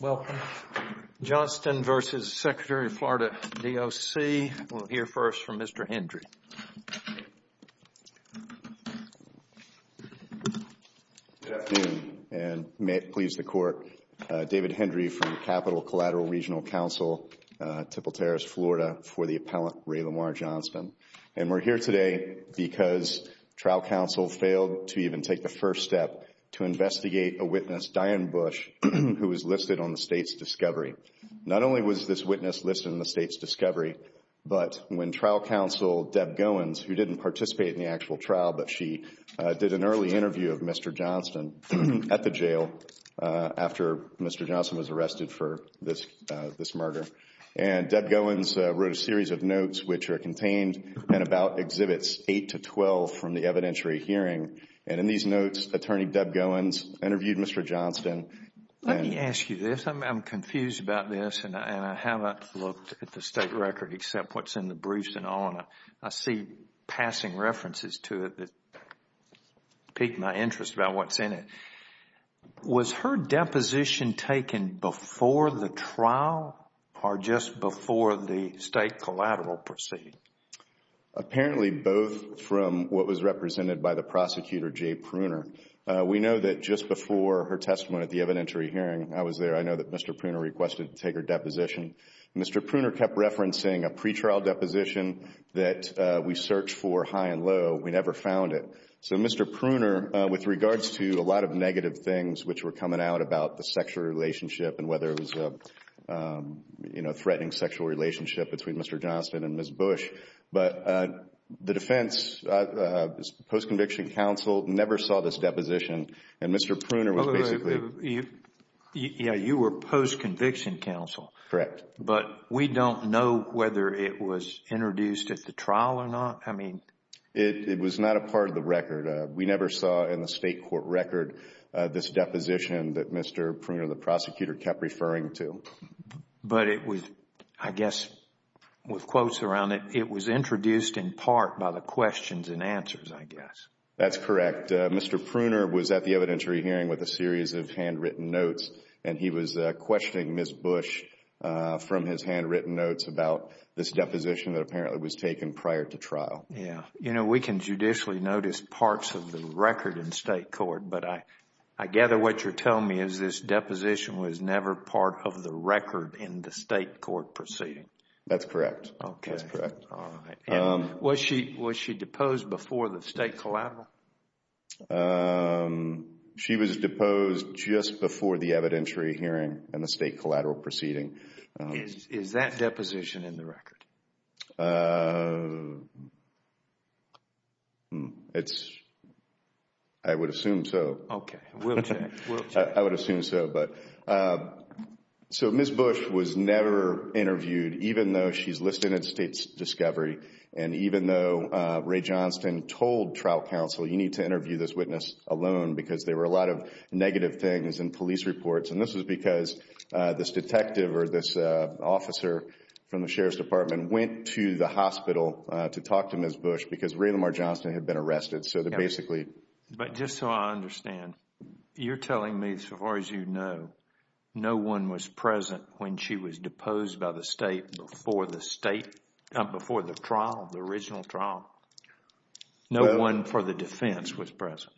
Welcome. Johnston v. Secretary, Florida DOC. We'll hear first from Mr. Hendry. Good afternoon, and may it please the Court. David Hendry from Capital Collateral Regional Council, Tipple Terrace, Florida, for the appellant Ray Lamar Johnston. And we're here today because trial counsel failed to even take the first step to investigate a witness, Diane Bush, who was listed on the state's discovery. Not only was this witness listed on the state's discovery, but when trial counsel Deb Goins, who didn't participate in the actual trial, but she did an early interview of Mr. Johnston at the jail after Mr. Johnston was arrested for this murder. And Deb Goins wrote a series of notes which are contained in about Exhibits 8 to 12 from the evidentiary hearing. And in these notes, Attorney Deb Goins interviewed Mr. Johnston. Let me ask you this. I'm confused about this, and I haven't looked at the state record except what's in the briefs and all, and I see passing references to it that pique my interest about what's in it. Was her deposition taken before the trial or just before the state collateral proceeding? Apparently, both from what was represented by the prosecutor, Jay Pruner. We know that just before her testimony at the evidentiary hearing, I was there. I know that Mr. Pruner requested to take her deposition. Mr. Pruner kept referencing a pretrial deposition that we searched for high and low. We never found it. So Mr. Pruner, with regards to a lot of negative things which were coming out about the sexual relationship and whether it was a threatening sexual relationship between Mr. Johnston and Ms. Bush, but the defense, post-conviction counsel, never saw this deposition. And Mr. Pruner was basically— Yeah, you were post-conviction counsel. Correct. But we don't know whether it was introduced at the trial or not. I mean— It was not a part of the record. We never saw in the state court record this deposition that Mr. Pruner, the prosecutor, kept referring to. But it was, I guess, with quotes around it, it was introduced in part by the questions and answers, I guess. That's correct. Mr. Pruner was at the evidentiary hearing with a series of handwritten notes, and he was questioning Ms. Bush from his handwritten notes about this deposition that apparently was taken prior to trial. Yeah. You know, we can judicially notice parts of the record in state court, but I gather what you're telling me is this deposition was never part of the record in the state court proceeding. That's correct. Okay. That's correct. Was she deposed before the state collateral? She was deposed just before the evidentiary hearing and the state collateral proceeding. Is that deposition in the record? It's—I would assume so. Okay. We'll check. I would assume so. So Ms. Bush was never interviewed, even though she's listed in the state's discovery, and even though Ray Johnston told trial counsel, you need to interview this witness alone because there were a lot of negative things in police reports. And this was because this detective or this officer from the Sheriff's Department went to the hospital to talk to Ms. Bush because Ray Lamar Johnston had been arrested. But just so I understand, you're telling me, as far as you know, no one was present when she was deposed by the state before the trial, the original trial? No one for the defense was present?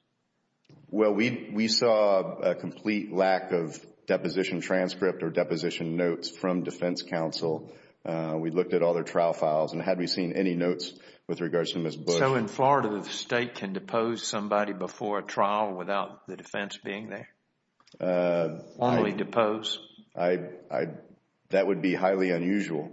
Well, we saw a complete lack of deposition transcript or deposition notes from defense counsel. We looked at all their trial files and hadn't seen any notes with regards to Ms. Bush. So in Florida, the state can depose somebody before a trial without the defense being there? Only depose? That would be highly unusual.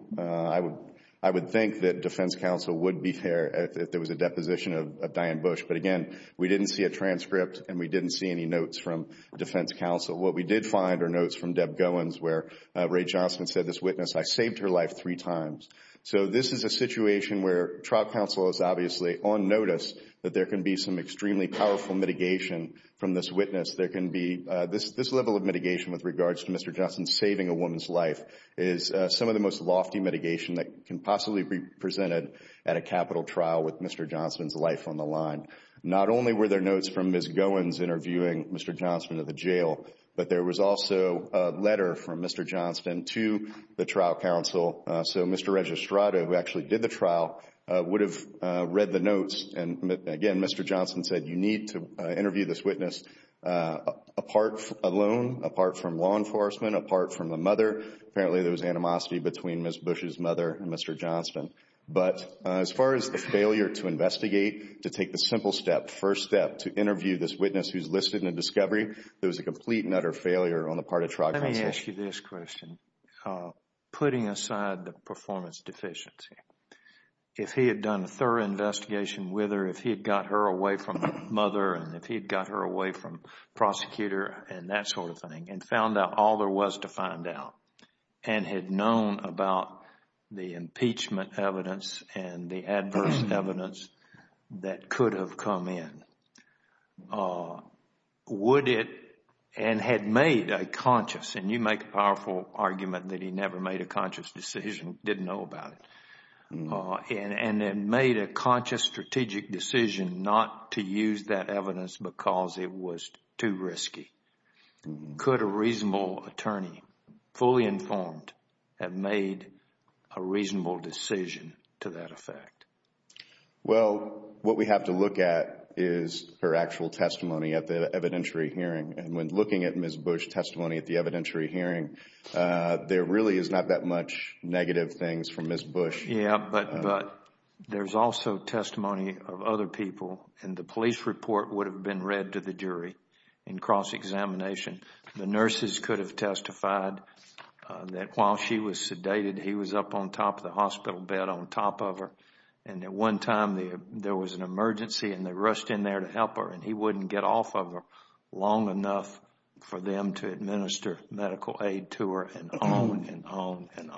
I would think that defense counsel would be there if there was a deposition of Diane Bush. But again, we didn't see a transcript and we didn't see any notes from defense counsel. What we did find are notes from Deb Goins where Ray Johnston said this witness, I saved her life three times. So this is a situation where trial counsel is obviously on notice that there can be some extremely powerful mitigation from this witness. There can be this level of mitigation with regards to Mr. Johnston saving a woman's life is some of the most lofty mitigation that can possibly be presented at a capital trial with Mr. Johnston's life on the line. Not only were there notes from Ms. Goins interviewing Mr. Johnston at the jail, but there was also a letter from Mr. Johnston to the trial counsel. So Mr. Registrata, who actually did the trial, would have read the notes. And again, Mr. Johnston said you need to interview this witness apart alone, apart from law enforcement, apart from the mother. Apparently there was animosity between Ms. Bush's mother and Mr. Johnston. But as far as the failure to investigate, to take the simple step, first step to interview this witness who's listed in the discovery, there was a complete and utter failure on the part of trial counsel. Let me ask you this question. Putting aside the performance deficiency, if he had done a thorough investigation with her, if he had got her away from the mother and if he had got her away from the prosecutor and that sort of thing and found out all there was to find out and had known about the impeachment evidence and the adverse evidence that could have come in, would it, and had made a conscious, and you make a powerful argument that he never made a conscious decision, didn't know about it, and made a conscious strategic decision not to use that evidence because it was too risky, could a reasonable attorney, fully informed, have made a reasonable decision to that effect? Well, what we have to look at is her actual testimony at the evidentiary hearing. And when looking at Ms. Bush's testimony at the evidentiary hearing, there really is not that much negative things from Ms. Bush. Yeah, but there's also testimony of other people, and the police report would have been read to the jury in cross-examination. The nurses could have testified that while she was sedated, he was up on top of the hospital bed on top of her, and at one time there was an emergency and they rushed in there to help her, and he wouldn't get off of her long enough for them to administer medical aid to her and on and on and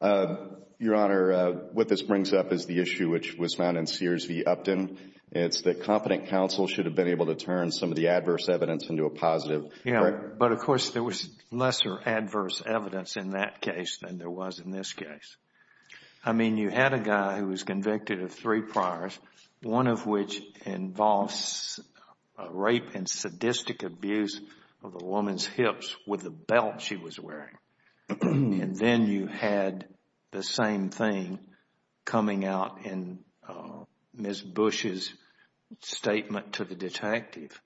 on. Your Honor, what this brings up is the issue which was found in Sears v. Upton. It's that competent counsel should have been able to turn some of the adverse evidence into a positive. Yeah, but of course there was lesser adverse evidence in that case than there was in this case. I mean, you had a guy who was convicted of three priors, one of which involves rape and sadistic abuse of a woman's hips with a belt she was wearing. And then you had the same thing coming out in Ms. Bush's statement to the detective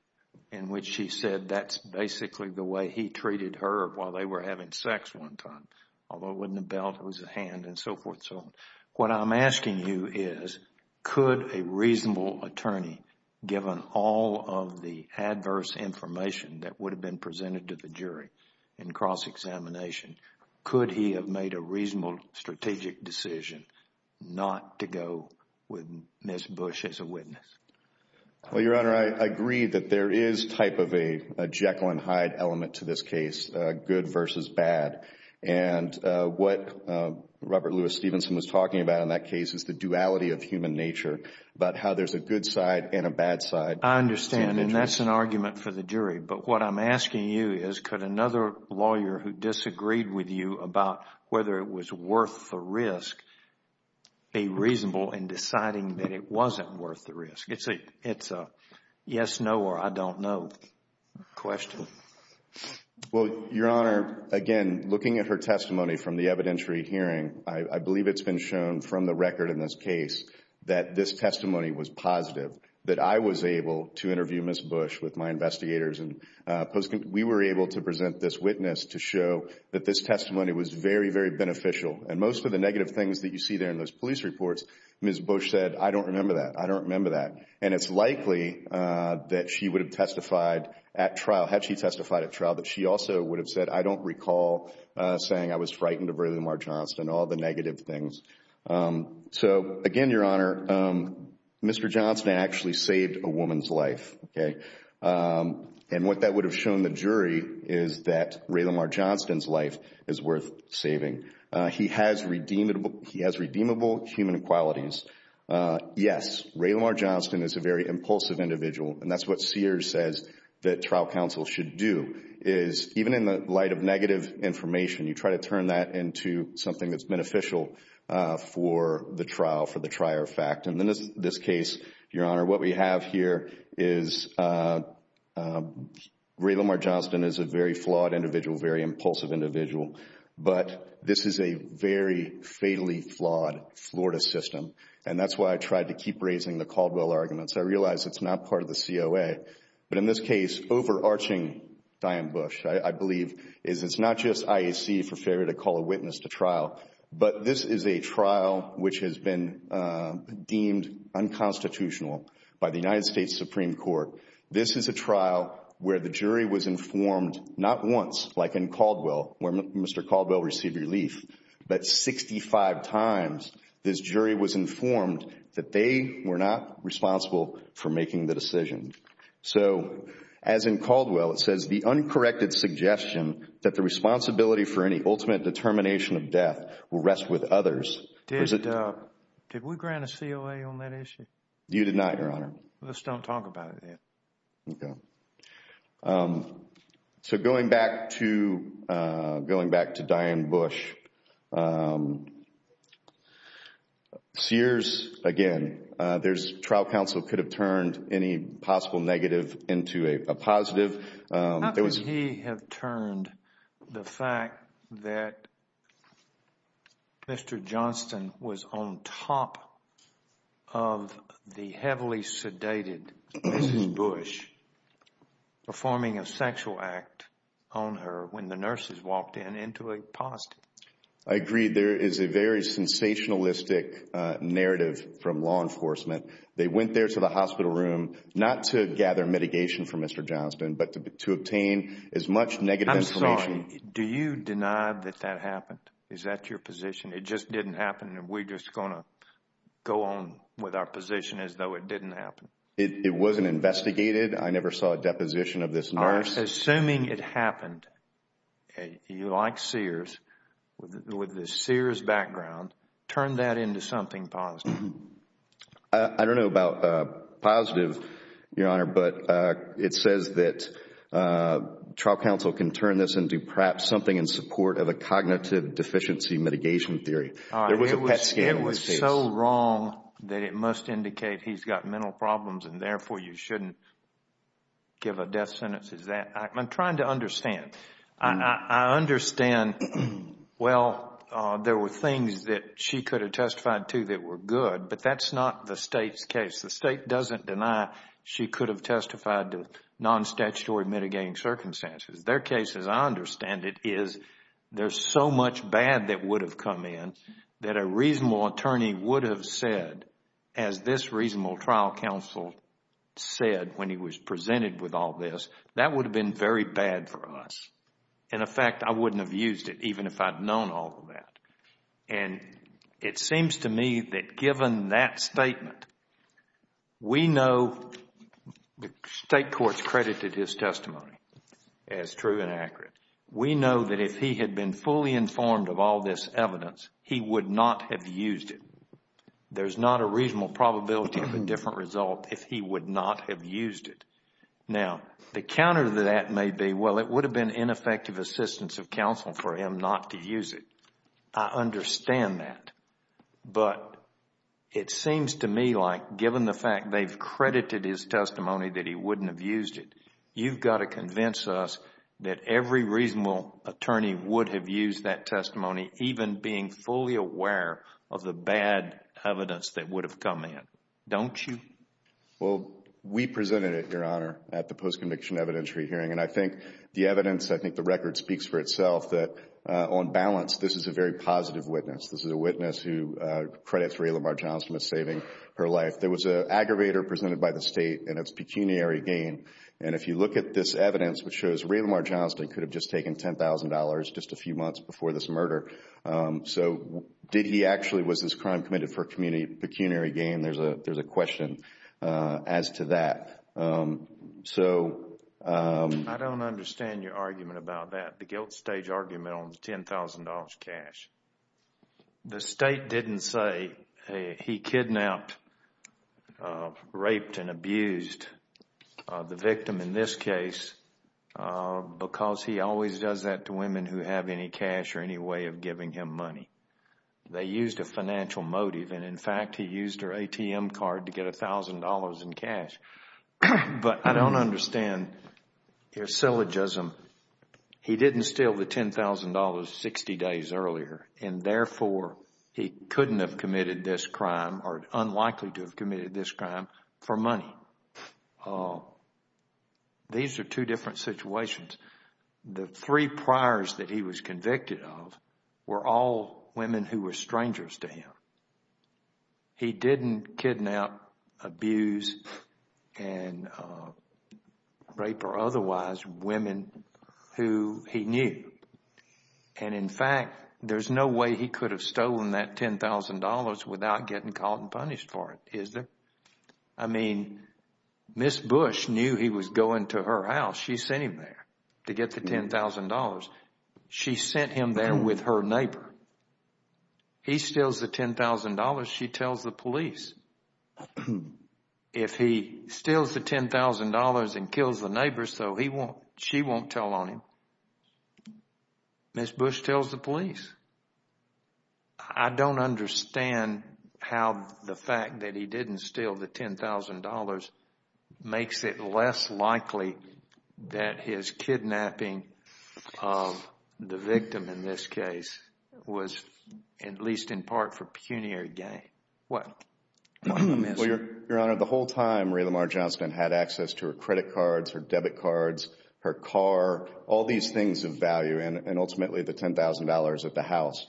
in which she said that's basically the way he treated her while they were having sex one time, although it wasn't a belt, it was a hand and so forth and so on. What I'm asking you is, could a reasonable attorney, given all of the adverse information that would have been presented to the jury in cross-examination, could he have made a reasonable strategic decision not to go with Ms. Bush as a witness? Well, Your Honor, I agree that there is type of a Jekyll and Hyde element to this case, good versus bad. And what Robert Louis Stevenson was talking about in that case is the duality of human nature, about how there's a good side and a bad side. I understand, and that's an argument for the jury. But what I'm asking you is, could another lawyer who disagreed with you about whether it was worth the risk be reasonable in deciding that it wasn't worth the risk? It's a yes, no, or I don't know question. Well, Your Honor, again, looking at her testimony from the evidentiary hearing, I believe it's been shown from the record in this case that this testimony was positive, that I was able to interview Ms. Bush with my investigators. We were able to present this witness to show that this testimony was very, very beneficial. And most of the negative things that you see there in those police reports, Ms. Bush said, I don't remember that. I don't remember that. And it's likely that she would have testified at trial, had she testified at trial, that she also would have said, I don't recall saying I was frightened of Raylamar Johnston, all the negative things. So, again, Your Honor, Mr. Johnston actually saved a woman's life. And what that would have shown the jury is that Raylamar Johnston's life is worth saving. He has redeemable human qualities. Yes, Raylamar Johnston is a very impulsive individual, and that's what Sears says that trial counsel should do, is even in the light of negative information, you try to turn that into something that's beneficial for the trial, for the trier of fact. And in this case, Your Honor, what we have here is Raylamar Johnston is a very flawed individual, very impulsive individual, but this is a very fatally flawed Florida system. And that's why I tried to keep raising the Caldwell arguments. I realize it's not part of the COA. But in this case, overarching Diane Bush, I believe, is it's not just IAC for failure to call a witness to trial, but this is a trial which has been deemed unconstitutional by the United States Supreme Court. This is a trial where the jury was informed not once, like in Caldwell, where Mr. Caldwell received relief, but 65 times this jury was informed that they were not responsible for making the decision. So as in Caldwell, it says the uncorrected suggestion that the responsibility for any ultimate determination of death will rest with others. Did we grant a COA on that issue? You did not, Your Honor. Let's don't talk about it then. Okay. Trial counsel could have turned any possible negative into a positive. How could he have turned the fact that Mr. Johnston was on top of the heavily sedated Mrs. Bush performing a sexual act on her when the nurses walked in into a positive? I agree. There is a very sensationalistic narrative from law enforcement. They went there to the hospital room not to gather mitigation from Mr. Johnston, but to obtain as much negative information. I'm sorry. Do you deny that that happened? Is that your position? It just didn't happen and we're just going to go on with our position as though it didn't happen? It wasn't investigated. I never saw a deposition of this nurse. Assuming it happened, you like Sears, with the Sears background, turn that into something positive. I don't know about positive, Your Honor, but it says that trial counsel can turn this into perhaps something in support of a cognitive deficiency mitigation theory. There was a PET scale in this case. It's so wrong that it must indicate he's got mental problems and therefore you shouldn't give a death sentence. I'm trying to understand. I understand, well, there were things that she could have testified to that were good, but that's not the State's case. The State doesn't deny she could have testified to non-statutory mitigating circumstances. Their case, as I understand it, is there's so much bad that would have come in that a reasonable attorney would have said, as this reasonable trial counsel said when he was presented with all this, that would have been very bad for us. In effect, I wouldn't have used it even if I'd known all of that. It seems to me that given that statement, we know the State courts credited his testimony as true and accurate. We know that if he had been fully informed of all this evidence, he would not have used it. There's not a reasonable probability of a different result if he would not have used it. Now, the counter to that may be, well, it would have been ineffective assistance of counsel for him not to use it. I understand that, but it seems to me like given the fact they've credited his testimony that he wouldn't have used it, you've got to convince us that every reasonable attorney would have used that testimony, even being fully aware of the bad evidence that would have come in. Don't you? Well, we presented it, Your Honor, at the post-conviction evidentiary hearing. I think the evidence, I think the record speaks for itself that on balance, this is a very positive witness. This is a witness who credits Ray Lamar Johnston with saving her life. There was an aggravator presented by the State and it's pecuniary gain. If you look at this evidence, which shows Ray Lamar Johnston could have just taken $10,000 just a few months before this murder. Did he actually, was this crime committed for pecuniary gain? There's a question as to that. I don't understand your argument about that, the guilt stage argument on the $10,000 cash. The State didn't say he kidnapped, raped, and abused the victim in this case because he always does that to women who have any cash or any way of giving him money. They used a financial motive and, in fact, he used her ATM card to get $1,000 in cash. But I don't understand your syllogism. He didn't steal the $10,000 60 days earlier and, therefore, he couldn't have committed this crime or unlikely to have committed this crime for money. These are two different situations. The three priors that he was convicted of were all women who were strangers to him. He didn't kidnap, abuse, and rape or otherwise women who he knew. In fact, there's no way he could have stolen that $10,000 without getting caught and punished for it, is there? I mean, Ms. Bush knew he was going to her house. She sent him there to get the $10,000. She sent him there with her neighbor. He steals the $10,000. She tells the police. If he steals the $10,000 and kills the neighbor so she won't tell on him, Ms. Bush tells the police. I don't understand how the fact that he didn't steal the $10,000 makes it less likely that his kidnapping of the victim, in this case, was at least in part for pecuniary gain. Your Honor, the whole time Ray Lamar Johnson had access to her credit cards, her debit cards, her car, all these things of value and ultimately the $10,000 at the house.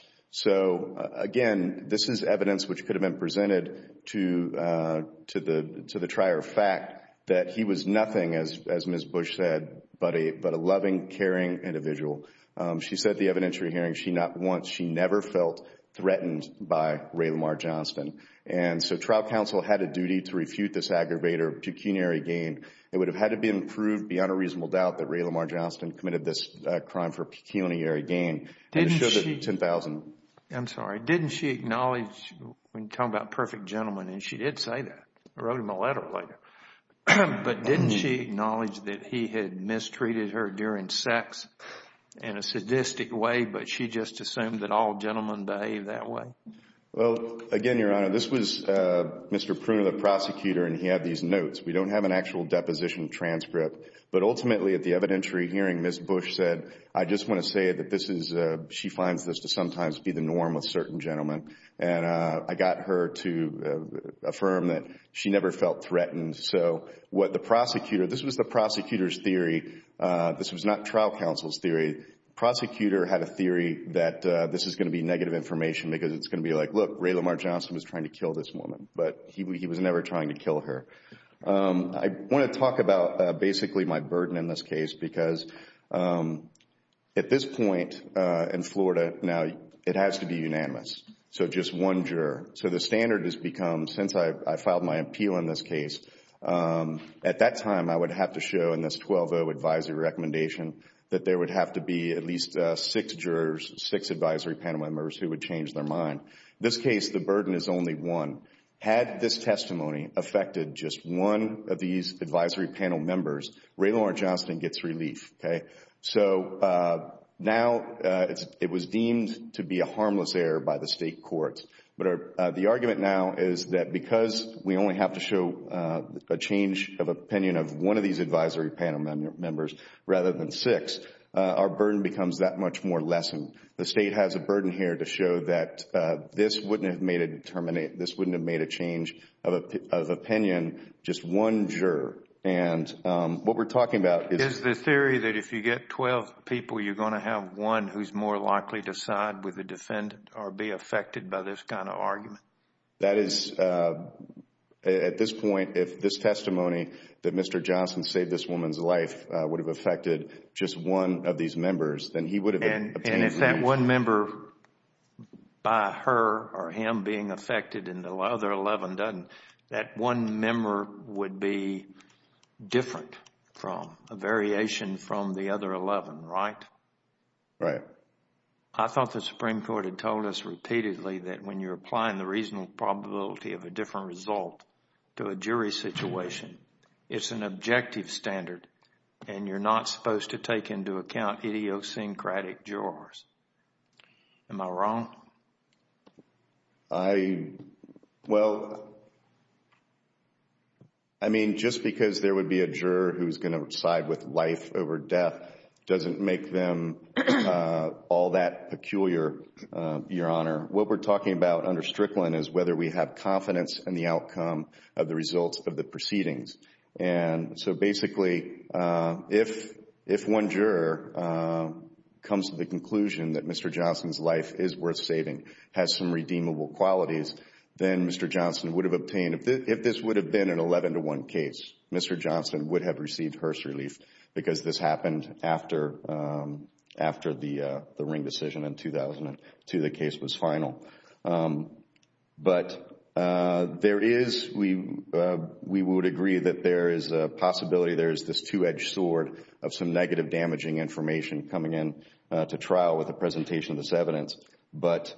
Again, this is evidence which could have been presented to the trier of fact that he was nothing, as Ms. Bush said, but a loving, caring individual. She said at the evidentiary hearing she never felt threatened by Ray Lamar Johnson. So trial counsel had a duty to refute this aggravator, pecuniary gain. It would have had to be improved beyond a reasonable doubt that Ray Lamar Johnson committed this crime for pecuniary gain. I'm sorry. Didn't she acknowledge when talking about perfect gentlemen, and she did say that. I wrote him a letter later. But didn't she acknowledge that he had mistreated her during sex in a sadistic way, but she just assumed that all gentlemen behave that way? Well, again, Your Honor, this was Mr. Pruner, the prosecutor, and he had these notes. We don't have an actual deposition transcript. But ultimately at the evidentiary hearing, Ms. Bush said, I just want to say that she finds this to sometimes be the norm with certain gentlemen. And I got her to affirm that she never felt threatened. So what the prosecutor, this was the prosecutor's theory. This was not trial counsel's theory. The prosecutor had a theory that this is going to be negative information because it's going to be like, look, Ray Lamar Johnson was trying to kill this woman, but he was never trying to kill her. I want to talk about basically my burden in this case because at this point in Florida, now it has to be unanimous, so just one juror. So the standard has become since I filed my appeal in this case, at that time I would have to show in this 12-0 advisory recommendation that there would have to be at least six jurors, six advisory panel members who would change their mind. In this case, the burden is only one. Had this testimony affected just one of these advisory panel members, Ray Lamar Johnson gets relief. So now it was deemed to be a harmless error by the state court. But the argument now is that because we only have to show a change of opinion of one of these advisory panel members rather than six, our burden becomes that much more lessened. The state has a burden here to show that this wouldn't have made a change of opinion, just one juror. And what we're talking about is... Is the theory that if you get 12 people, you're going to have one who's more likely to side with the defendant or be affected by this kind of argument? That is, at this point, if this testimony that Mr. Johnson saved this woman's life would have affected just one of these members, then he would have obtained relief. And if that one member by her or him being affected and the other 11 doesn't, that one member would be different from, a variation from the other 11, right? Right. I thought the Supreme Court had told us repeatedly that when you're applying the reasonable probability of a different result to a jury situation, it's an objective standard and you're not supposed to take into account idiosyncratic jurors. Am I wrong? I... well, I mean, just because there would be a juror who's going to side with life over death doesn't make them all that peculiar, Your Honor. What we're talking about under Strickland is whether we have confidence in the outcome of the results of the proceedings. And so basically, if one juror comes to the conclusion that Mr. Johnson's life is worth saving, has some redeemable qualities, then Mr. Johnson would have obtained, if this would have been an 11 to 1 case, Mr. Johnson would have received hearse relief because this happened after the Ring decision in 2002, the case was final. But there is... we would agree that there is a possibility, there is this two-edged sword of some negative damaging information coming in to trial with the presentation of this evidence. But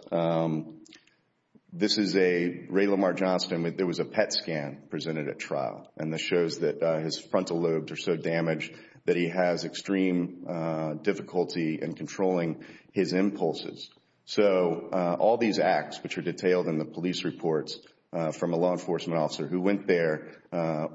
this is a... Ray Lamar Johnston, there was a PET scan presented at trial, and this shows that his frontal lobes are so damaged that he has extreme difficulty in controlling his impulses. So all these acts, which are detailed in the police reports from a law enforcement officer who went there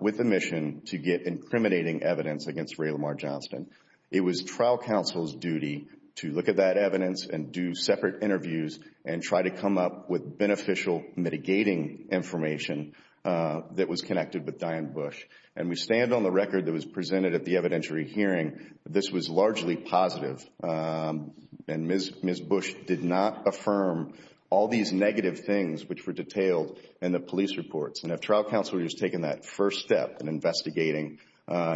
with the mission to get incriminating evidence against Ray Lamar Johnston, it was trial counsel's duty to look at that evidence and do separate interviews and try to come up with beneficial mitigating information that was connected with Diane Bush. And we stand on the record that was presented at the evidentiary hearing that this was largely positive. And Ms. Bush did not affirm all these negative things which were detailed in the police reports. And if trial counsel had just taken that first step in investigating,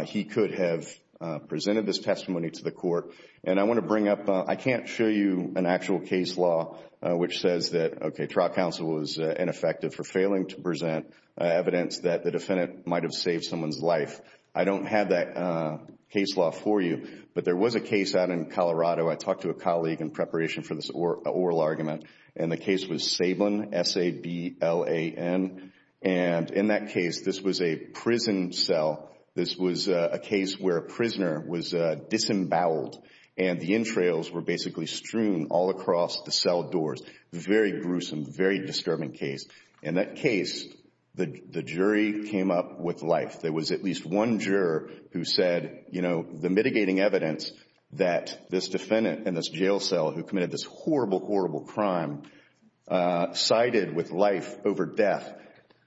he could have presented this testimony to the court. And I want to bring up... I can't show you an actual case law which says that, okay, trial counsel was ineffective for failing to present evidence that the defendant might have saved someone's life. I don't have that case law for you, but there was a case out in Colorado. I talked to a colleague in preparation for this oral argument, and the case was Sablan, S-A-B-L-A-N. And in that case, this was a prison cell. This was a case where a prisoner was disemboweled, and the entrails were basically strewn all across the cell doors. Very gruesome, very disturbing case. In that case, the jury came up with life. There was at least one juror who said, you know, the mitigating evidence that this defendant in this jail cell who committed this horrible, horrible crime sided with life over death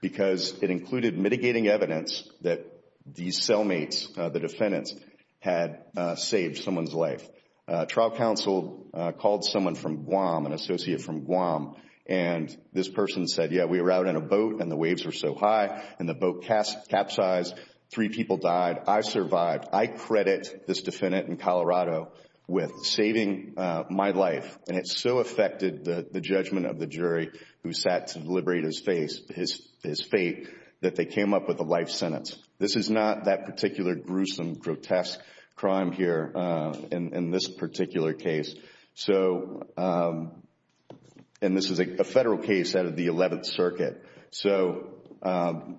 because it included mitigating evidence that these cellmates, the defendants, had saved someone's life. Trial counsel called someone from Guam, an associate from Guam, and this person said, yeah, we were out in a boat, and the waves were so high, and the boat capsized. Three people died. I survived. I credit this defendant in Colorado with saving my life, and it so affected the judgment of the jury who sat to deliberate his fate that they came up with a life sentence. This is not that particular gruesome, grotesque crime here in this particular case. So, and this is a federal case out of the 11th Circuit, so I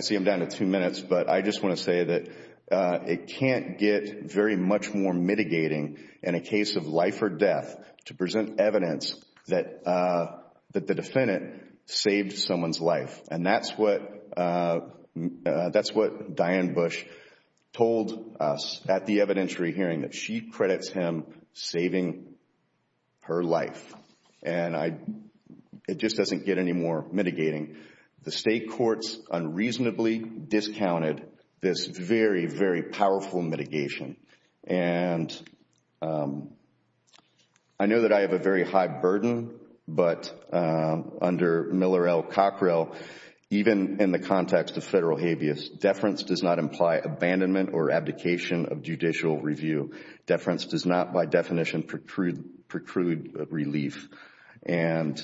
see I'm down to two minutes, but I just want to say that it can't get very much more mitigating in a case of life or death to present evidence that the defendant saved someone's life, and that's what Diane Bush told us at the evidentiary hearing, that she credits him saving her life, and it just doesn't get any more mitigating. The state courts unreasonably discounted this very, very powerful mitigation, and I know that I have a very high burden, but under Miller L. Cockrell, even in the context of federal habeas, deference does not imply abandonment or abdication of judicial review. Deference does not, by definition, preclude relief, and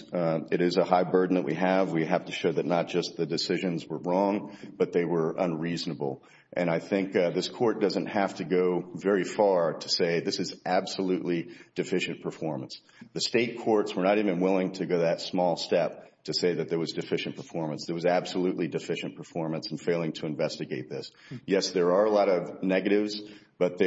it is a high burden that we have. We have to show that not just the decisions were wrong, but they were unreasonable, and I think this court doesn't have to go very far to say this is absolutely deficient performance. The state courts were not even willing to go that small step to say that there was deficient performance. There was absolutely deficient performance in failing to investigate this. Yes, there are a lot of negatives, but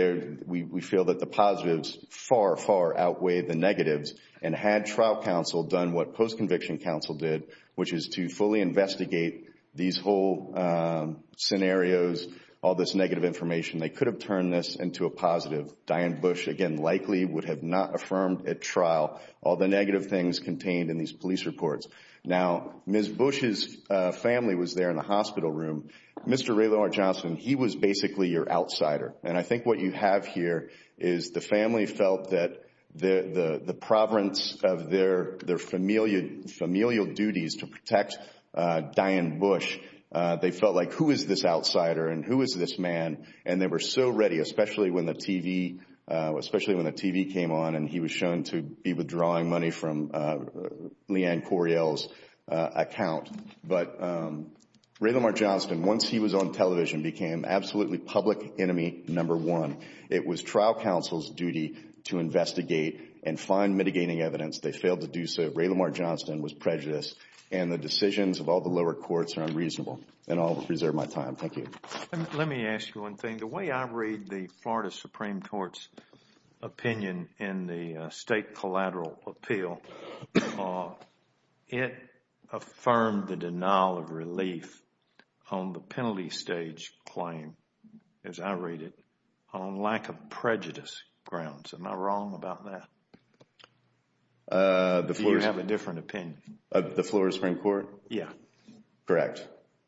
we feel that the positives far, far outweigh the negatives, and had trial counsel done what post-conviction counsel did, which is to fully investigate these whole scenarios, all this negative information, they could have turned this into a positive. Diane Bush, again, likely would have not affirmed at trial all the negative things contained in these police reports. Now, Ms. Bush's family was there in the hospital room. Mr. Raylord Johnson, he was basically your outsider, and I think what you have here is the family felt that the providence of their familial duties to protect Diane Bush, they felt like, who is this outsider and who is this man, and they were so ready, especially when the TV came on and he was shown to be withdrawing money from Leanne Coriell's account. But Raylord Johnson, once he was on television, became absolutely public enemy number one. It was trial counsel's duty to investigate and find mitigating evidence. They failed to do so. Raylord Johnson was prejudiced, and the decisions of all the lower courts are unreasonable. And I will reserve my time. Thank you. Let me ask you one thing. The way I read the Florida Supreme Court's opinion in the State Collateral Appeal, it affirmed the denial of relief on the penalty stage claim, as I read it, on lack of prejudice grounds. Am I wrong about that? You have a different opinion. The Florida Supreme Court? Yes. Correct.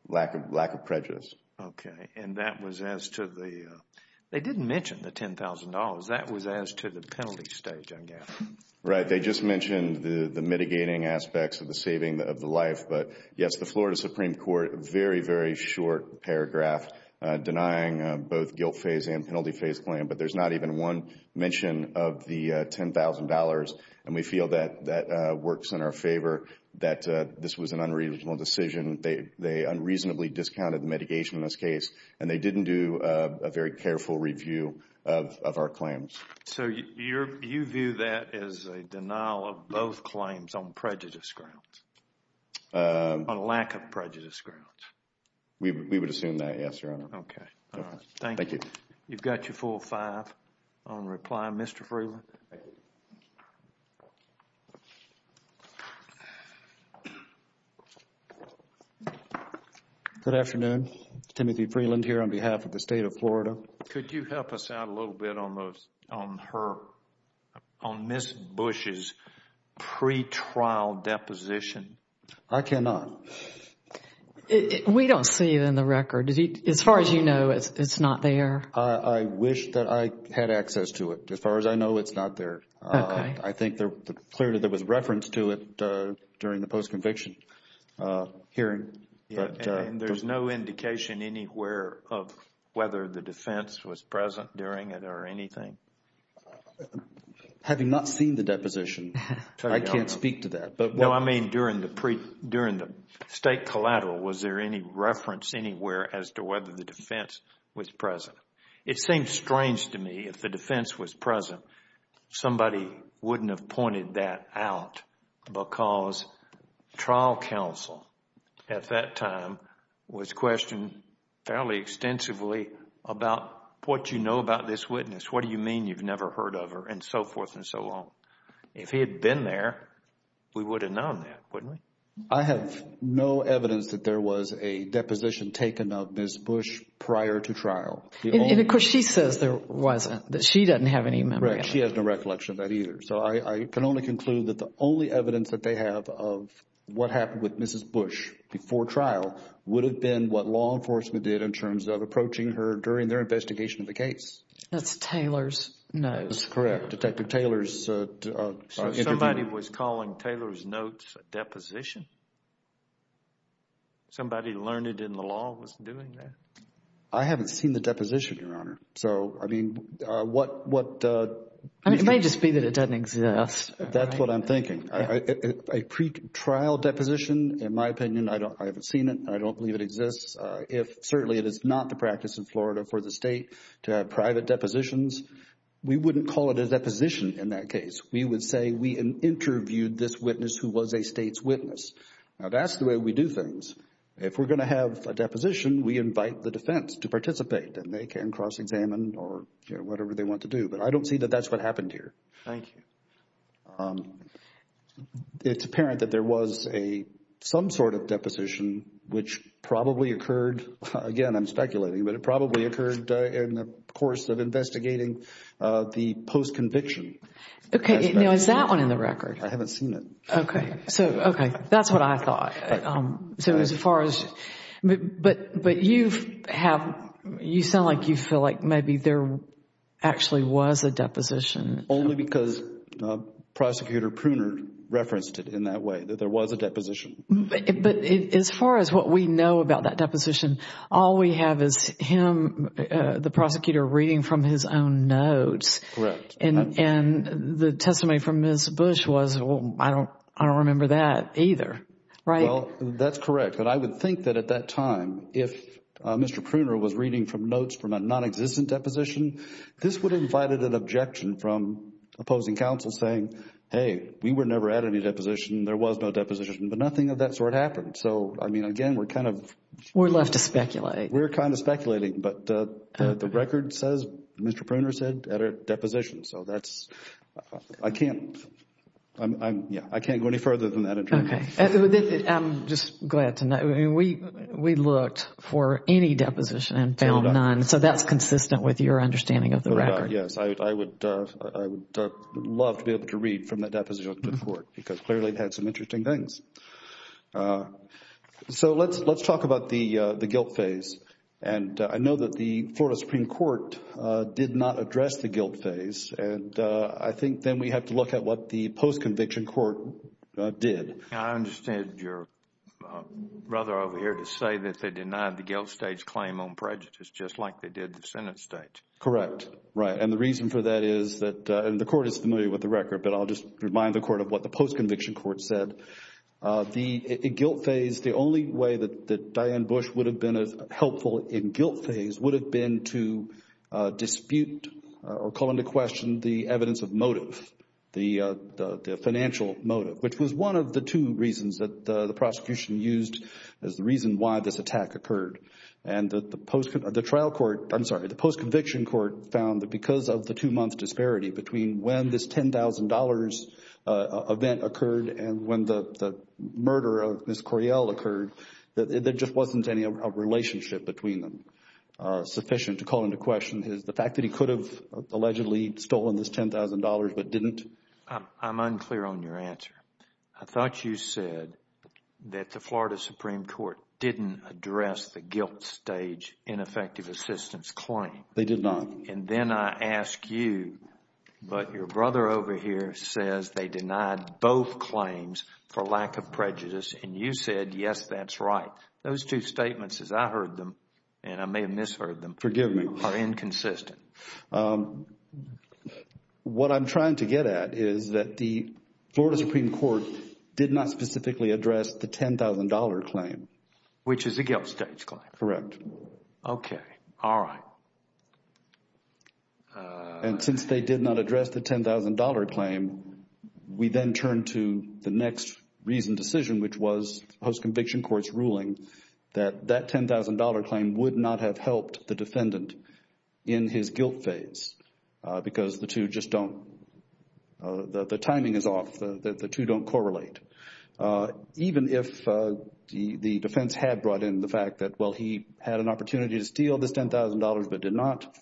Lack of prejudice. Okay. And that was as to the – they didn't mention the $10,000. That was as to the penalty stage, I gather. Right. They just mentioned the mitigating aspects of the saving of the life. But, yes, the Florida Supreme Court, very, very short paragraph denying both guilt phase and penalty phase claim, but there's not even one mention of the $10,000, and we feel that that works in our favor, that this was an unreasonable decision. They unreasonably discounted the mitigation in this case, and they didn't do a very careful review of our claims. So you view that as a denial of both claims on prejudice grounds, on lack of prejudice grounds? We would assume that, yes, Your Honor. Okay. All right. Thank you. Thank you. You've got your full five on reply. Mr. Freeland? Thank you, Your Honor. Good afternoon. Timothy Freeland here on behalf of the State of Florida. Could you help us out a little bit on her, on Ms. Bush's pretrial deposition? I cannot. We don't see it in the record. As far as you know, it's not there. I wish that I had access to it. As far as I know, it's not there. Okay. I think clearly there was reference to it during the post-conviction hearing. And there's no indication anywhere of whether the defense was present during it or anything? Having not seen the deposition, I can't speak to that. No, I mean during the state collateral, was there any reference anywhere as to whether the defense was present? It seems strange to me if the defense was present. Somebody wouldn't have pointed that out because trial counsel at that time was questioned fairly extensively about what you know about this witness, what do you mean you've never heard of her, and so forth and so on. If he had been there, we would have known that, wouldn't we? I have no evidence that there was a deposition taken of Ms. Bush prior to trial. And of course, she says there wasn't, that she doesn't have any memory of it. Correct. She has no recollection of that either. So I can only conclude that the only evidence that they have of what happened with Ms. Bush before trial would have been what law enforcement did in terms of approaching her during their investigation of the case. That's Taylor's notes. That's correct. Detective Taylor's interview. Somebody was calling Taylor's notes a deposition? Somebody learned it in the law was doing that? I haven't seen the deposition, Your Honor. So, I mean, what... It may just be that it doesn't exist. That's what I'm thinking. A pretrial deposition, in my opinion, I haven't seen it. I don't believe it exists. If certainly it is not the practice in Florida for the state to have private depositions, we wouldn't call it a deposition in that case. We would say we interviewed this witness who was a state's witness. Now, that's the way we do things. If we're going to have a deposition, we invite the defense to participate, and they can cross-examine or whatever they want to do. But I don't see that that's what happened here. Thank you. It's apparent that there was some sort of deposition which probably occurred, again, I'm speculating, but it probably occurred in the course of investigating the post-conviction. Okay. Now, is that one in the record? I haven't seen it. Okay. So, okay. That's what I thought. So, as far as... But you have... You sound like you feel like maybe there actually was a deposition. Only because Prosecutor Pruner referenced it in that way, that there was a deposition. But as far as what we know about that deposition, all we have is him, the prosecutor, reading from his own notes. Correct. And the testimony from Ms. Bush was, well, I don't remember that either. Right? Well, that's correct. But I would think that at that time, if Mr. Pruner was reading from notes from a nonexistent deposition, this would have invited an objection from opposing counsel saying, hey, we were never at any deposition, there was no deposition. But nothing of that sort happened. So, I mean, again, we're kind of... We're left to speculate. We're kind of speculating. But the record says, Mr. Pruner said, at a deposition. So, that's... I can't go any further than that. Okay. I'm just glad to know. We looked for any deposition and found none. So, that's consistent with your understanding of the record. Yes. I would love to be able to read from that deposition to the court because clearly it had some interesting things. So, let's talk about the guilt phase. And I know that the Florida Supreme Court did not address the guilt phase. And I think then we have to look at what the post-conviction court did. I understand your brother over here to say that they denied the guilt stage claim on prejudice, just like they did the Senate stage. Correct. Right. And the reason for that is that, and the court is familiar with the record, but I'll just remind the court of what the post-conviction court said. The guilt phase, the only way that Diane Bush would have been helpful in guilt phase would have been to dispute or call into question the evidence of motive, the financial motive, which was one of the two reasons that the prosecution used as the reason why this attack occurred. And the trial court, I'm sorry, the post-conviction court found that because of the two-month disparity between when this $10,000 event occurred and when the murder of Ms. Coryell occurred, that there just wasn't any relationship between them sufficient to call into question the fact that he could have allegedly stolen this $10,000 but didn't. I'm unclear on your answer. I thought you said that the Florida Supreme Court didn't address the guilt stage ineffective assistance claim. They did not. And then I ask you, but your brother over here says they denied both claims for lack of prejudice, and you said, yes, that's right. Those two statements, as I heard them, and I may have misheard them, are inconsistent. What I'm trying to get at is that the Florida Supreme Court did not specifically address the $10,000 claim. Which is the guilt stage claim. Correct. Okay. All right. And since they did not address the $10,000 claim, we then turn to the next reasoned decision, which was post-conviction court's ruling that that $10,000 claim would not have helped the defendant in his guilt phase because the two just don't, the timing is off, the two don't correlate. Even if the defense had brought in the fact that, well, he had an opportunity to steal this $10,000 but did not,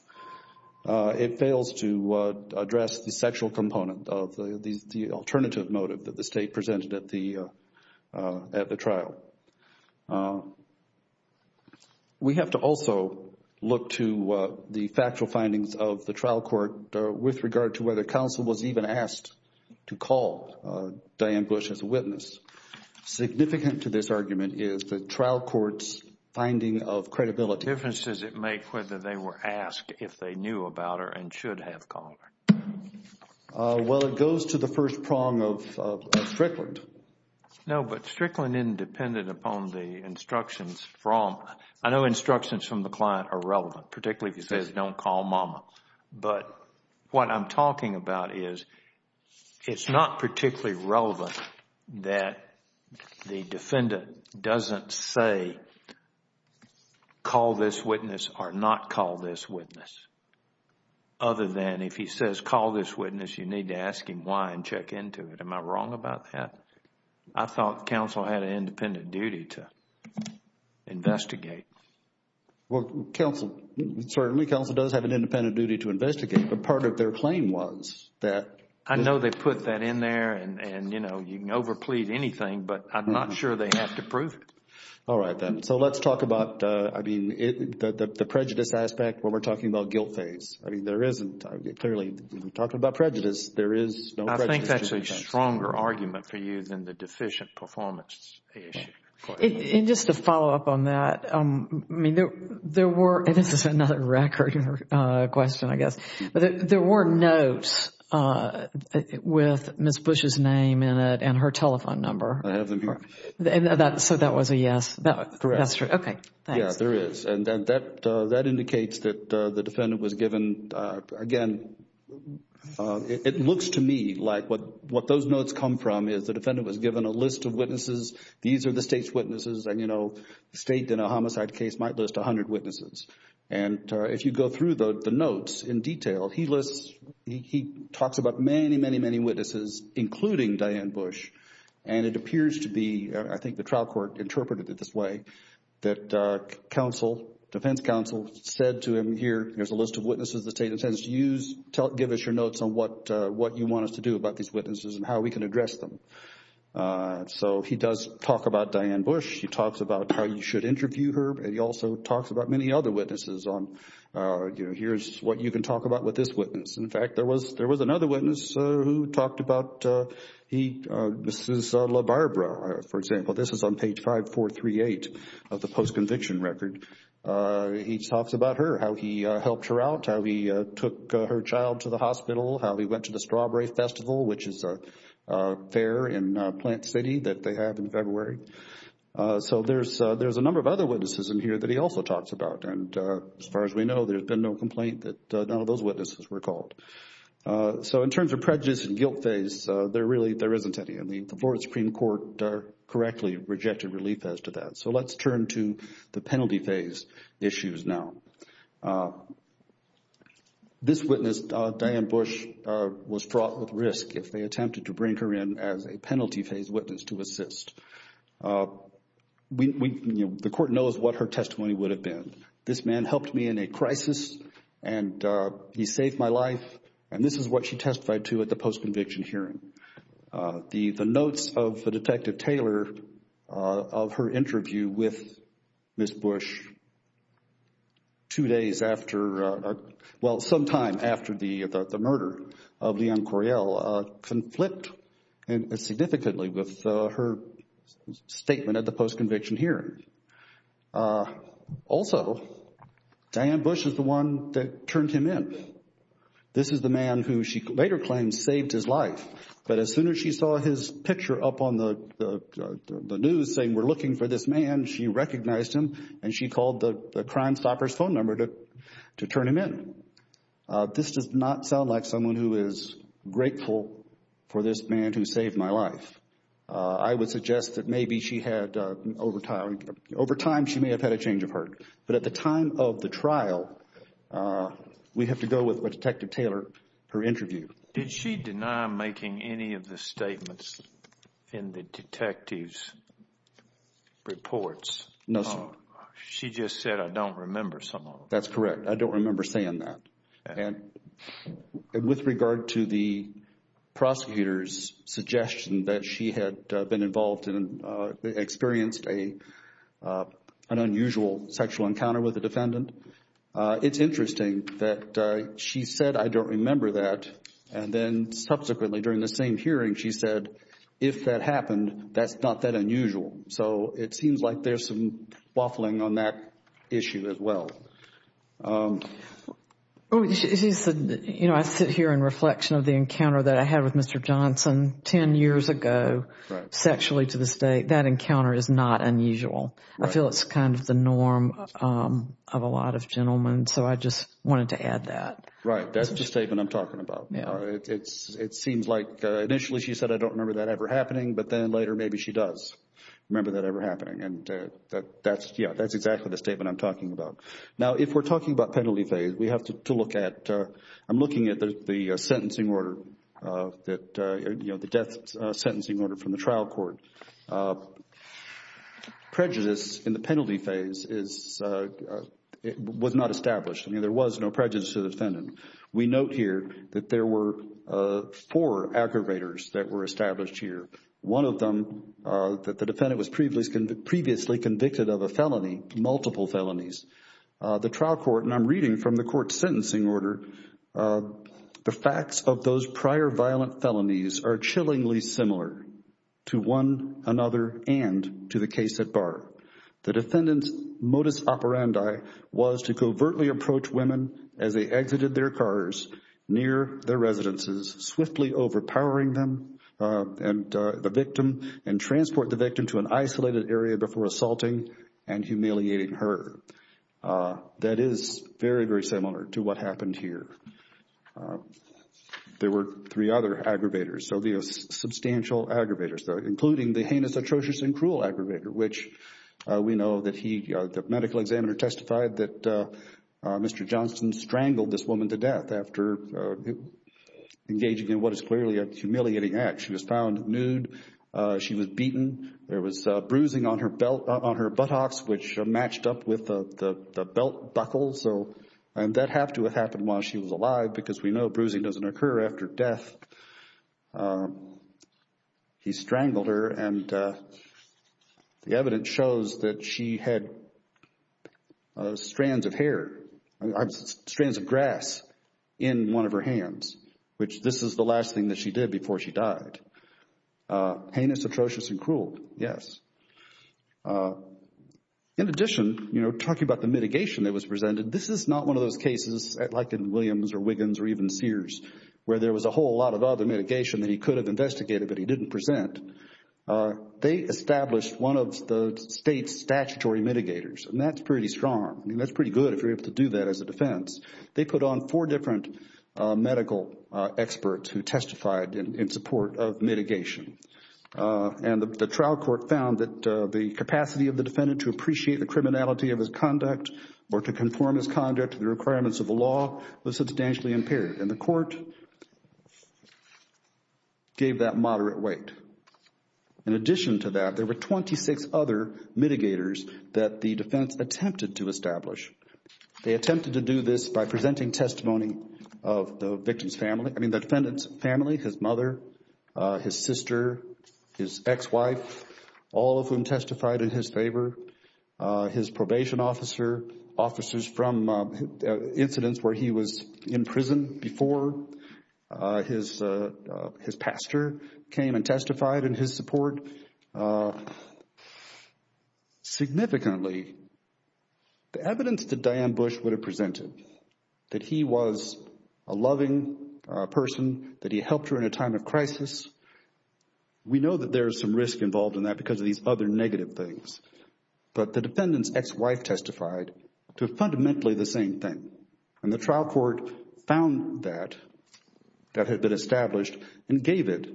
it fails to address the sexual component of the alternative motive that the State presented at the trial. We have to also look to the factual findings of the trial court with regard to whether counsel was even asked to call Diane Bush as a witness. Significant to this argument is the trial court's finding of credibility. What difference does it make whether they were asked if they knew about her and should have called her? Well, it goes to the first prong of Strickland. No, but Strickland, independent upon the instructions from, I know instructions from the client are relevant, particularly if it says don't call mama. But what I'm talking about is it's not particularly relevant that the defendant doesn't say call this witness or not call this witness. Other than if he says call this witness, you need to ask him why and check into it. Am I wrong about that? I thought counsel had an independent duty to investigate. Well, counsel, certainly counsel does have an independent duty to investigate, but part of their claim was that. I know they put that in there and, you know, you can overplead anything, but I'm not sure they have to prove it. All right then. So let's talk about, I mean, the prejudice aspect when we're talking about guilt phase. I mean, there isn't, clearly, when we're talking about prejudice, there is no prejudice. I think that's a stronger argument for you than the deficient performance issue. And just to follow up on that, I mean, there were, and this is another record question, I guess, but there were notes with Ms. Bush's name in it and her telephone number. I have them here. So that was a yes? Correct. That's true. Okay, thanks. Yeah, there is, and that indicates that the defendant was given, again, it looks to me like what those notes come from is that the defendant was given a list of witnesses, these are the State's witnesses, and, you know, the State, in a homicide case, might list 100 witnesses. And if you go through the notes in detail, he lists, he talks about many, many, many witnesses, including Diane Bush, and it appears to be, I think the trial court interpreted it this way, that counsel, defense counsel said to him here, here's a list of witnesses the State intends to use, give us your notes on what you want us to do about these witnesses and how we can address them. So he does talk about Diane Bush. He talks about how you should interview her, and he also talks about many other witnesses on, you know, here's what you can talk about with this witness. In fact, there was another witness who talked about he, Mrs. LaBarbera, for example. This is on page 5438 of the post-conviction record. He talks about her, how he helped her out, how he took her child to the hospital, how he went to the Strawberry Festival, which is a fair in Plant City that they have in February. So there's a number of other witnesses in here that he also talks about. And as far as we know, there's been no complaint that none of those witnesses were called. So in terms of prejudice and guilt phase, there really, there isn't any, and the Florida Supreme Court correctly rejected relief as to that. So let's turn to the penalty phase issues now. This witness, Diane Bush, was fraught with risk if they attempted to bring her in as a penalty phase witness to assist. The court knows what her testimony would have been. This man helped me in a crisis, and he saved my life. And this is what she testified to at the post-conviction hearing. The notes of the Detective Taylor of her interview with Ms. Bush two days after, well, sometime after the murder of Leon Coriel conflict significantly with her statement at the post-conviction hearing. Also, Diane Bush is the one that turned him in. This is the man who she later claims saved his life. But as soon as she saw his picture up on the news saying we're looking for this man, she recognized him and she called the Crime Stopper's phone number to turn him in. This does not sound like someone who is grateful for this man who saved my life. I would suggest that maybe she had, over time, she may have had a change of heart. But at the time of the trial, we have to go with what Detective Taylor, her interview. Did she deny making any of the statements in the detective's reports? No, sir. She just said, I don't remember some of them. That's correct. I don't remember saying that. And with regard to the prosecutor's suggestion that she had been involved and experienced an unusual sexual encounter with a defendant, it's interesting that she said, I don't remember that. And then subsequently, during the same hearing, she said, if that happened, that's not that unusual. So it seems like there's some waffling on that issue as well. She said, you know, I sit here in reflection of the encounter that I had with Mr. Johnson 10 years ago sexually to this day. That encounter is not unusual. I feel it's kind of the norm of a lot of gentlemen. So I just wanted to add that. Right. That's the statement I'm talking about. It seems like initially she said, I don't remember that ever happening, but then later maybe she does remember that ever happening. And that's exactly the statement I'm talking about. Now, if we're talking about penalty phase, we have to look at, I'm looking at the sentencing order that, you know, the death sentencing order from the trial court. Prejudice in the penalty phase was not established. I mean, there was no prejudice to the defendant. We note here that there were four aggravators that were established here. One of them, that the defendant was previously convicted of a felony, multiple felonies. The trial court, and I'm reading from the court's sentencing order, the facts of those prior violent felonies are chillingly similar to one another and to the case at bar. The defendant's modus operandi was to covertly approach women as they exited their cars near their residences, swiftly overpowering them and the victim, and transport the victim to an isolated area before assaulting and humiliating her. That is very, very similar to what happened here. There were three other aggravators, so the substantial aggravators, including the heinous, atrocious, and cruel aggravator, which we know that the medical examiner testified that Mr. Johnston strangled this woman to death after engaging in what is clearly a humiliating act. She was found nude. She was beaten. There was bruising on her buttocks, which matched up with the belt buckle, and that had to have happened while she was alive because we know bruising doesn't occur after death. He strangled her, and the evidence shows that she had strands of hair, strands of grass in one of her hands, which this is the last thing that she did before she died. Heinous, atrocious, and cruel, yes. In addition, you know, talking about the mitigation that was presented, this is not one of those cases like in Williams or Wiggins or even Sears where there was a whole lot of other mitigation that he could have investigated but he didn't present. They established one of the state's statutory mitigators, and that's pretty strong. I mean, that's pretty good if you're able to do that as a defense. They put on four different medical experts who testified in support of mitigation, and the trial court found that the capacity of the defendant to appreciate the criminality of his conduct or to conform his conduct to the requirements of the law was substantially impaired, and the court gave that moderate weight. In addition to that, there were 26 other mitigators that the defense attempted to establish. They attempted to do this by presenting testimony of the victim's family, I mean the defendant's family, his mother, his sister, his ex-wife, all of whom testified in his favor, his probation officer, officers from incidents where he was in prison before his pastor came and testified in his support. Significantly, the evidence that Diane Bush would have presented, that he was a loving person, that he helped her in a time of crisis, we know that there is some risk involved in that because of these other negative things. But the defendant's ex-wife testified to fundamentally the same thing, and the trial court found that that had been established and gave it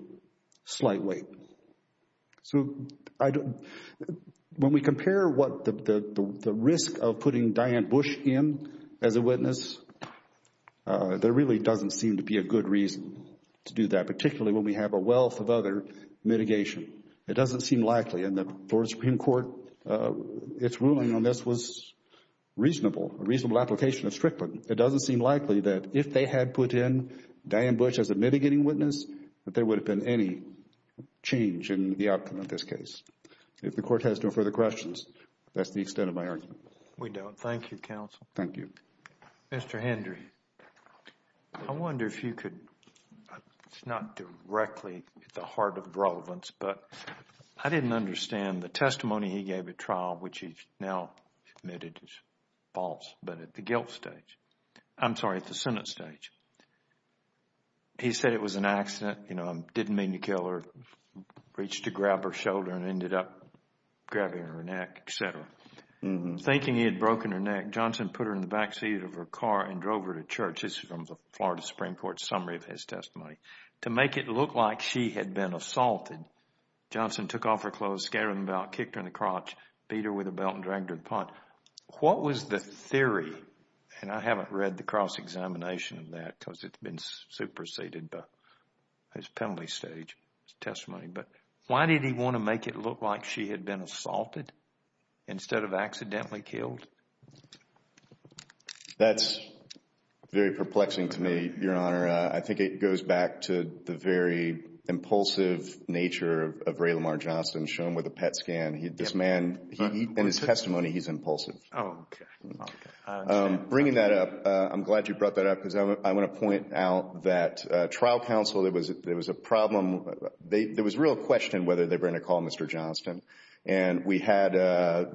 slight weight. So when we compare what the risk of putting Diane Bush in as a witness, there really doesn't seem to be a good reason to do that, particularly when we have a wealth of other mitigation. It doesn't seem likely, and the Florida Supreme Court, its ruling on this was reasonable, a reasonable application of Strickland. It doesn't seem likely that if they had put in Diane Bush as a mitigating witness, that there would have been any change in the outcome of this case. If the Court has no further questions, that's the extent of my argument. We don't. Thank you, Counsel. Thank you. Mr. Hendry, I wonder if you could, it's not directly at the heart of the relevance, but I didn't understand the testimony he gave at trial, which he's now admitted is false, but at the guilt stage. I'm sorry, at the sentence stage. He said it was an accident, you know, didn't mean to kill her, reached to grab her shoulder and ended up grabbing her neck, etc. Thinking he had broken her neck, Johnson put her in the back seat of her car and drove her to church. This is from the Florida Supreme Court summary of his testimony. To make it look like she had been assaulted, Johnson took off her clothes, scattered them about, kicked her in the crotch, beat her with a belt and dragged her to the pond. What was the theory, and I haven't read the cross-examination of that because it's been superseded by his penalty stage testimony, but why did he want to make it look like she had been assaulted instead of accidentally killed? That's very perplexing to me, Your Honor. I think it goes back to the very impulsive nature of Ray Lamar Johnson, shown with a PET scan. This man, in his testimony, he's impulsive. Okay. Bringing that up, I'm glad you brought that up because I want to point out that trial counsel, there was a problem. There was real question whether they were going to call Mr. Johnson. And we had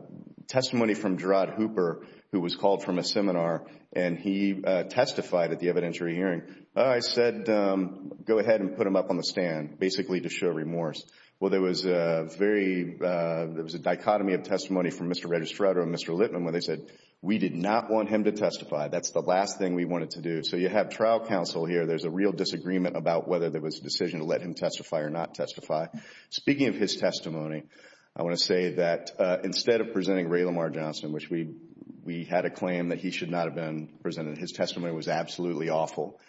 testimony from Gerard Hooper, who was called from a seminar, and he testified at the evidentiary hearing. I said, go ahead and put him up on the stand, basically to show remorse. Well, there was a very, there was a dichotomy of testimony from Mr. Registrato and Mr. Litman when they said, we did not want him to testify. That's the last thing we wanted to do. So you have trial counsel here. There's a real disagreement about whether there was a decision to let him testify or not testify. Speaking of his testimony, I want to say that instead of presenting Ray Lamar Johnson, which we had a claim that he should not have been presented, his testimony was absolutely awful.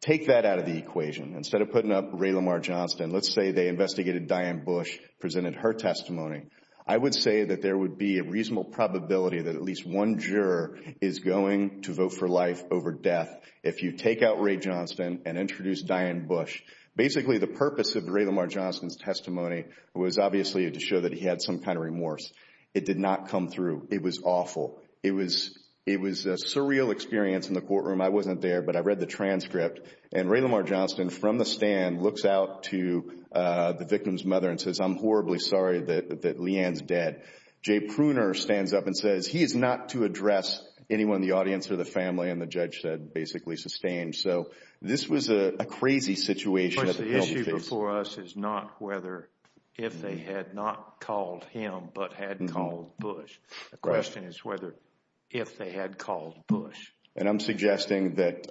Take that out of the equation. Instead of putting up Ray Lamar Johnson, let's say they investigated Diane Bush, presented her testimony. I would say that there would be a reasonable probability that at least one juror is going to vote for life over death if you take out Ray Johnson and introduce Diane Bush. Basically, the purpose of Ray Lamar Johnson's testimony was obviously to show that he had some kind of remorse. It did not come through. It was awful. It was a surreal experience in the courtroom. I wasn't there, but I read the transcript. And Ray Lamar Johnson, from the stand, looks out to the victim's mother and says, I'm horribly sorry that Leanne's dead. Jay Pruner stands up and says, he is not to address anyone in the audience or the family. And the judge said basically sustained. So this was a crazy situation. Of course, the issue before us is not whether if they had not called him but had called Bush. The question is whether if they had called Bush. And I'm suggesting that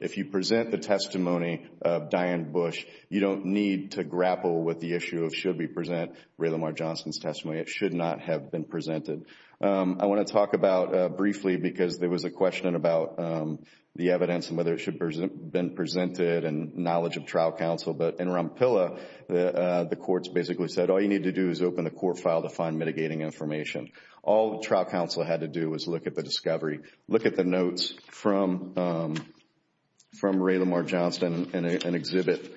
if you present the testimony of Diane Bush, you don't need to grapple with the issue of should we present Ray Lamar Johnson's testimony. It should not have been presented. I want to talk about briefly, because there was a question about the evidence and whether it should have been presented and knowledge of trial counsel. But in Rompilla, the courts basically said all you need to do is open the court file to find mitigating information. All trial counsel had to do was look at the discovery. Look at the notes from Ray Lamar Johnson in Exhibit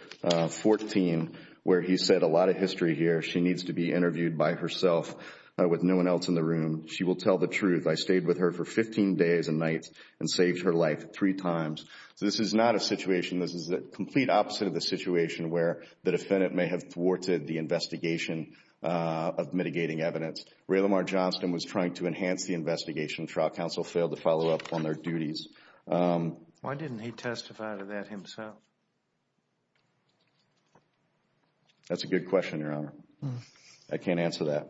14 where he said a lot of history here. She needs to be interviewed by herself with no one else in the room. She will tell the truth. I stayed with her for 15 days and nights and saved her life three times. So this is not a situation, this is the complete opposite of the situation, where the defendant may have thwarted the investigation of mitigating evidence. Ray Lamar Johnson was trying to enhance the investigation. Trial counsel failed to follow up on their duties. Why didn't he testify to that himself? That's a good question, Your Honor. I can't answer that.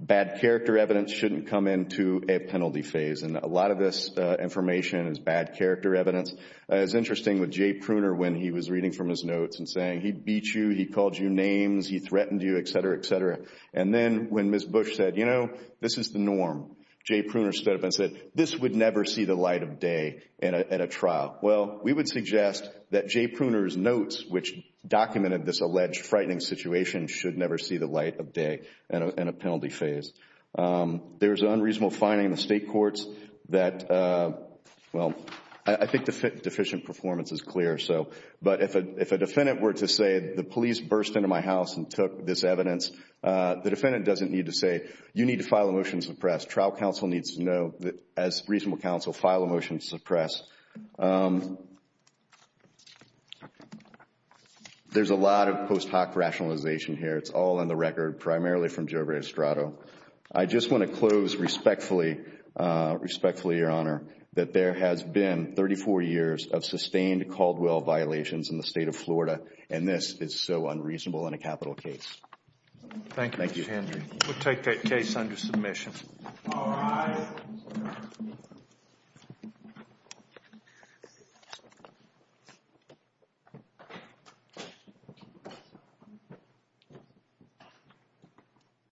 Bad character evidence shouldn't come into a penalty phase, and a lot of this information is bad character evidence. It was interesting with Jay Pruner when he was reading from his notes and saying he beat you, he called you names, he threatened you, et cetera, et cetera. And then when Ms. Bush said, you know, this is the norm, Jay Pruner stood up and said, this would never see the light of day at a trial. Well, we would suggest that Jay Pruner's notes, which documented this alleged frightening situation, should never see the light of day in a penalty phase. There's an unreasonable finding in the state courts that, well, I think deficient performance is clear, but if a defendant were to say the police burst into my house and took this evidence, the defendant doesn't need to say, you need to file a motion to suppress. Trial counsel needs to know, as reasonable counsel, file a motion to suppress. There's a lot of post hoc rationalization here. It's all in the record, primarily from Joe Restrato. I just want to close respectfully, respectfully, Your Honor, that there has been 34 years of sustained Caldwell violations in the state of Florida, and this is so unreasonable in a capital case. Thank you, Mr. Hendry. We'll take that case under submission. All rise.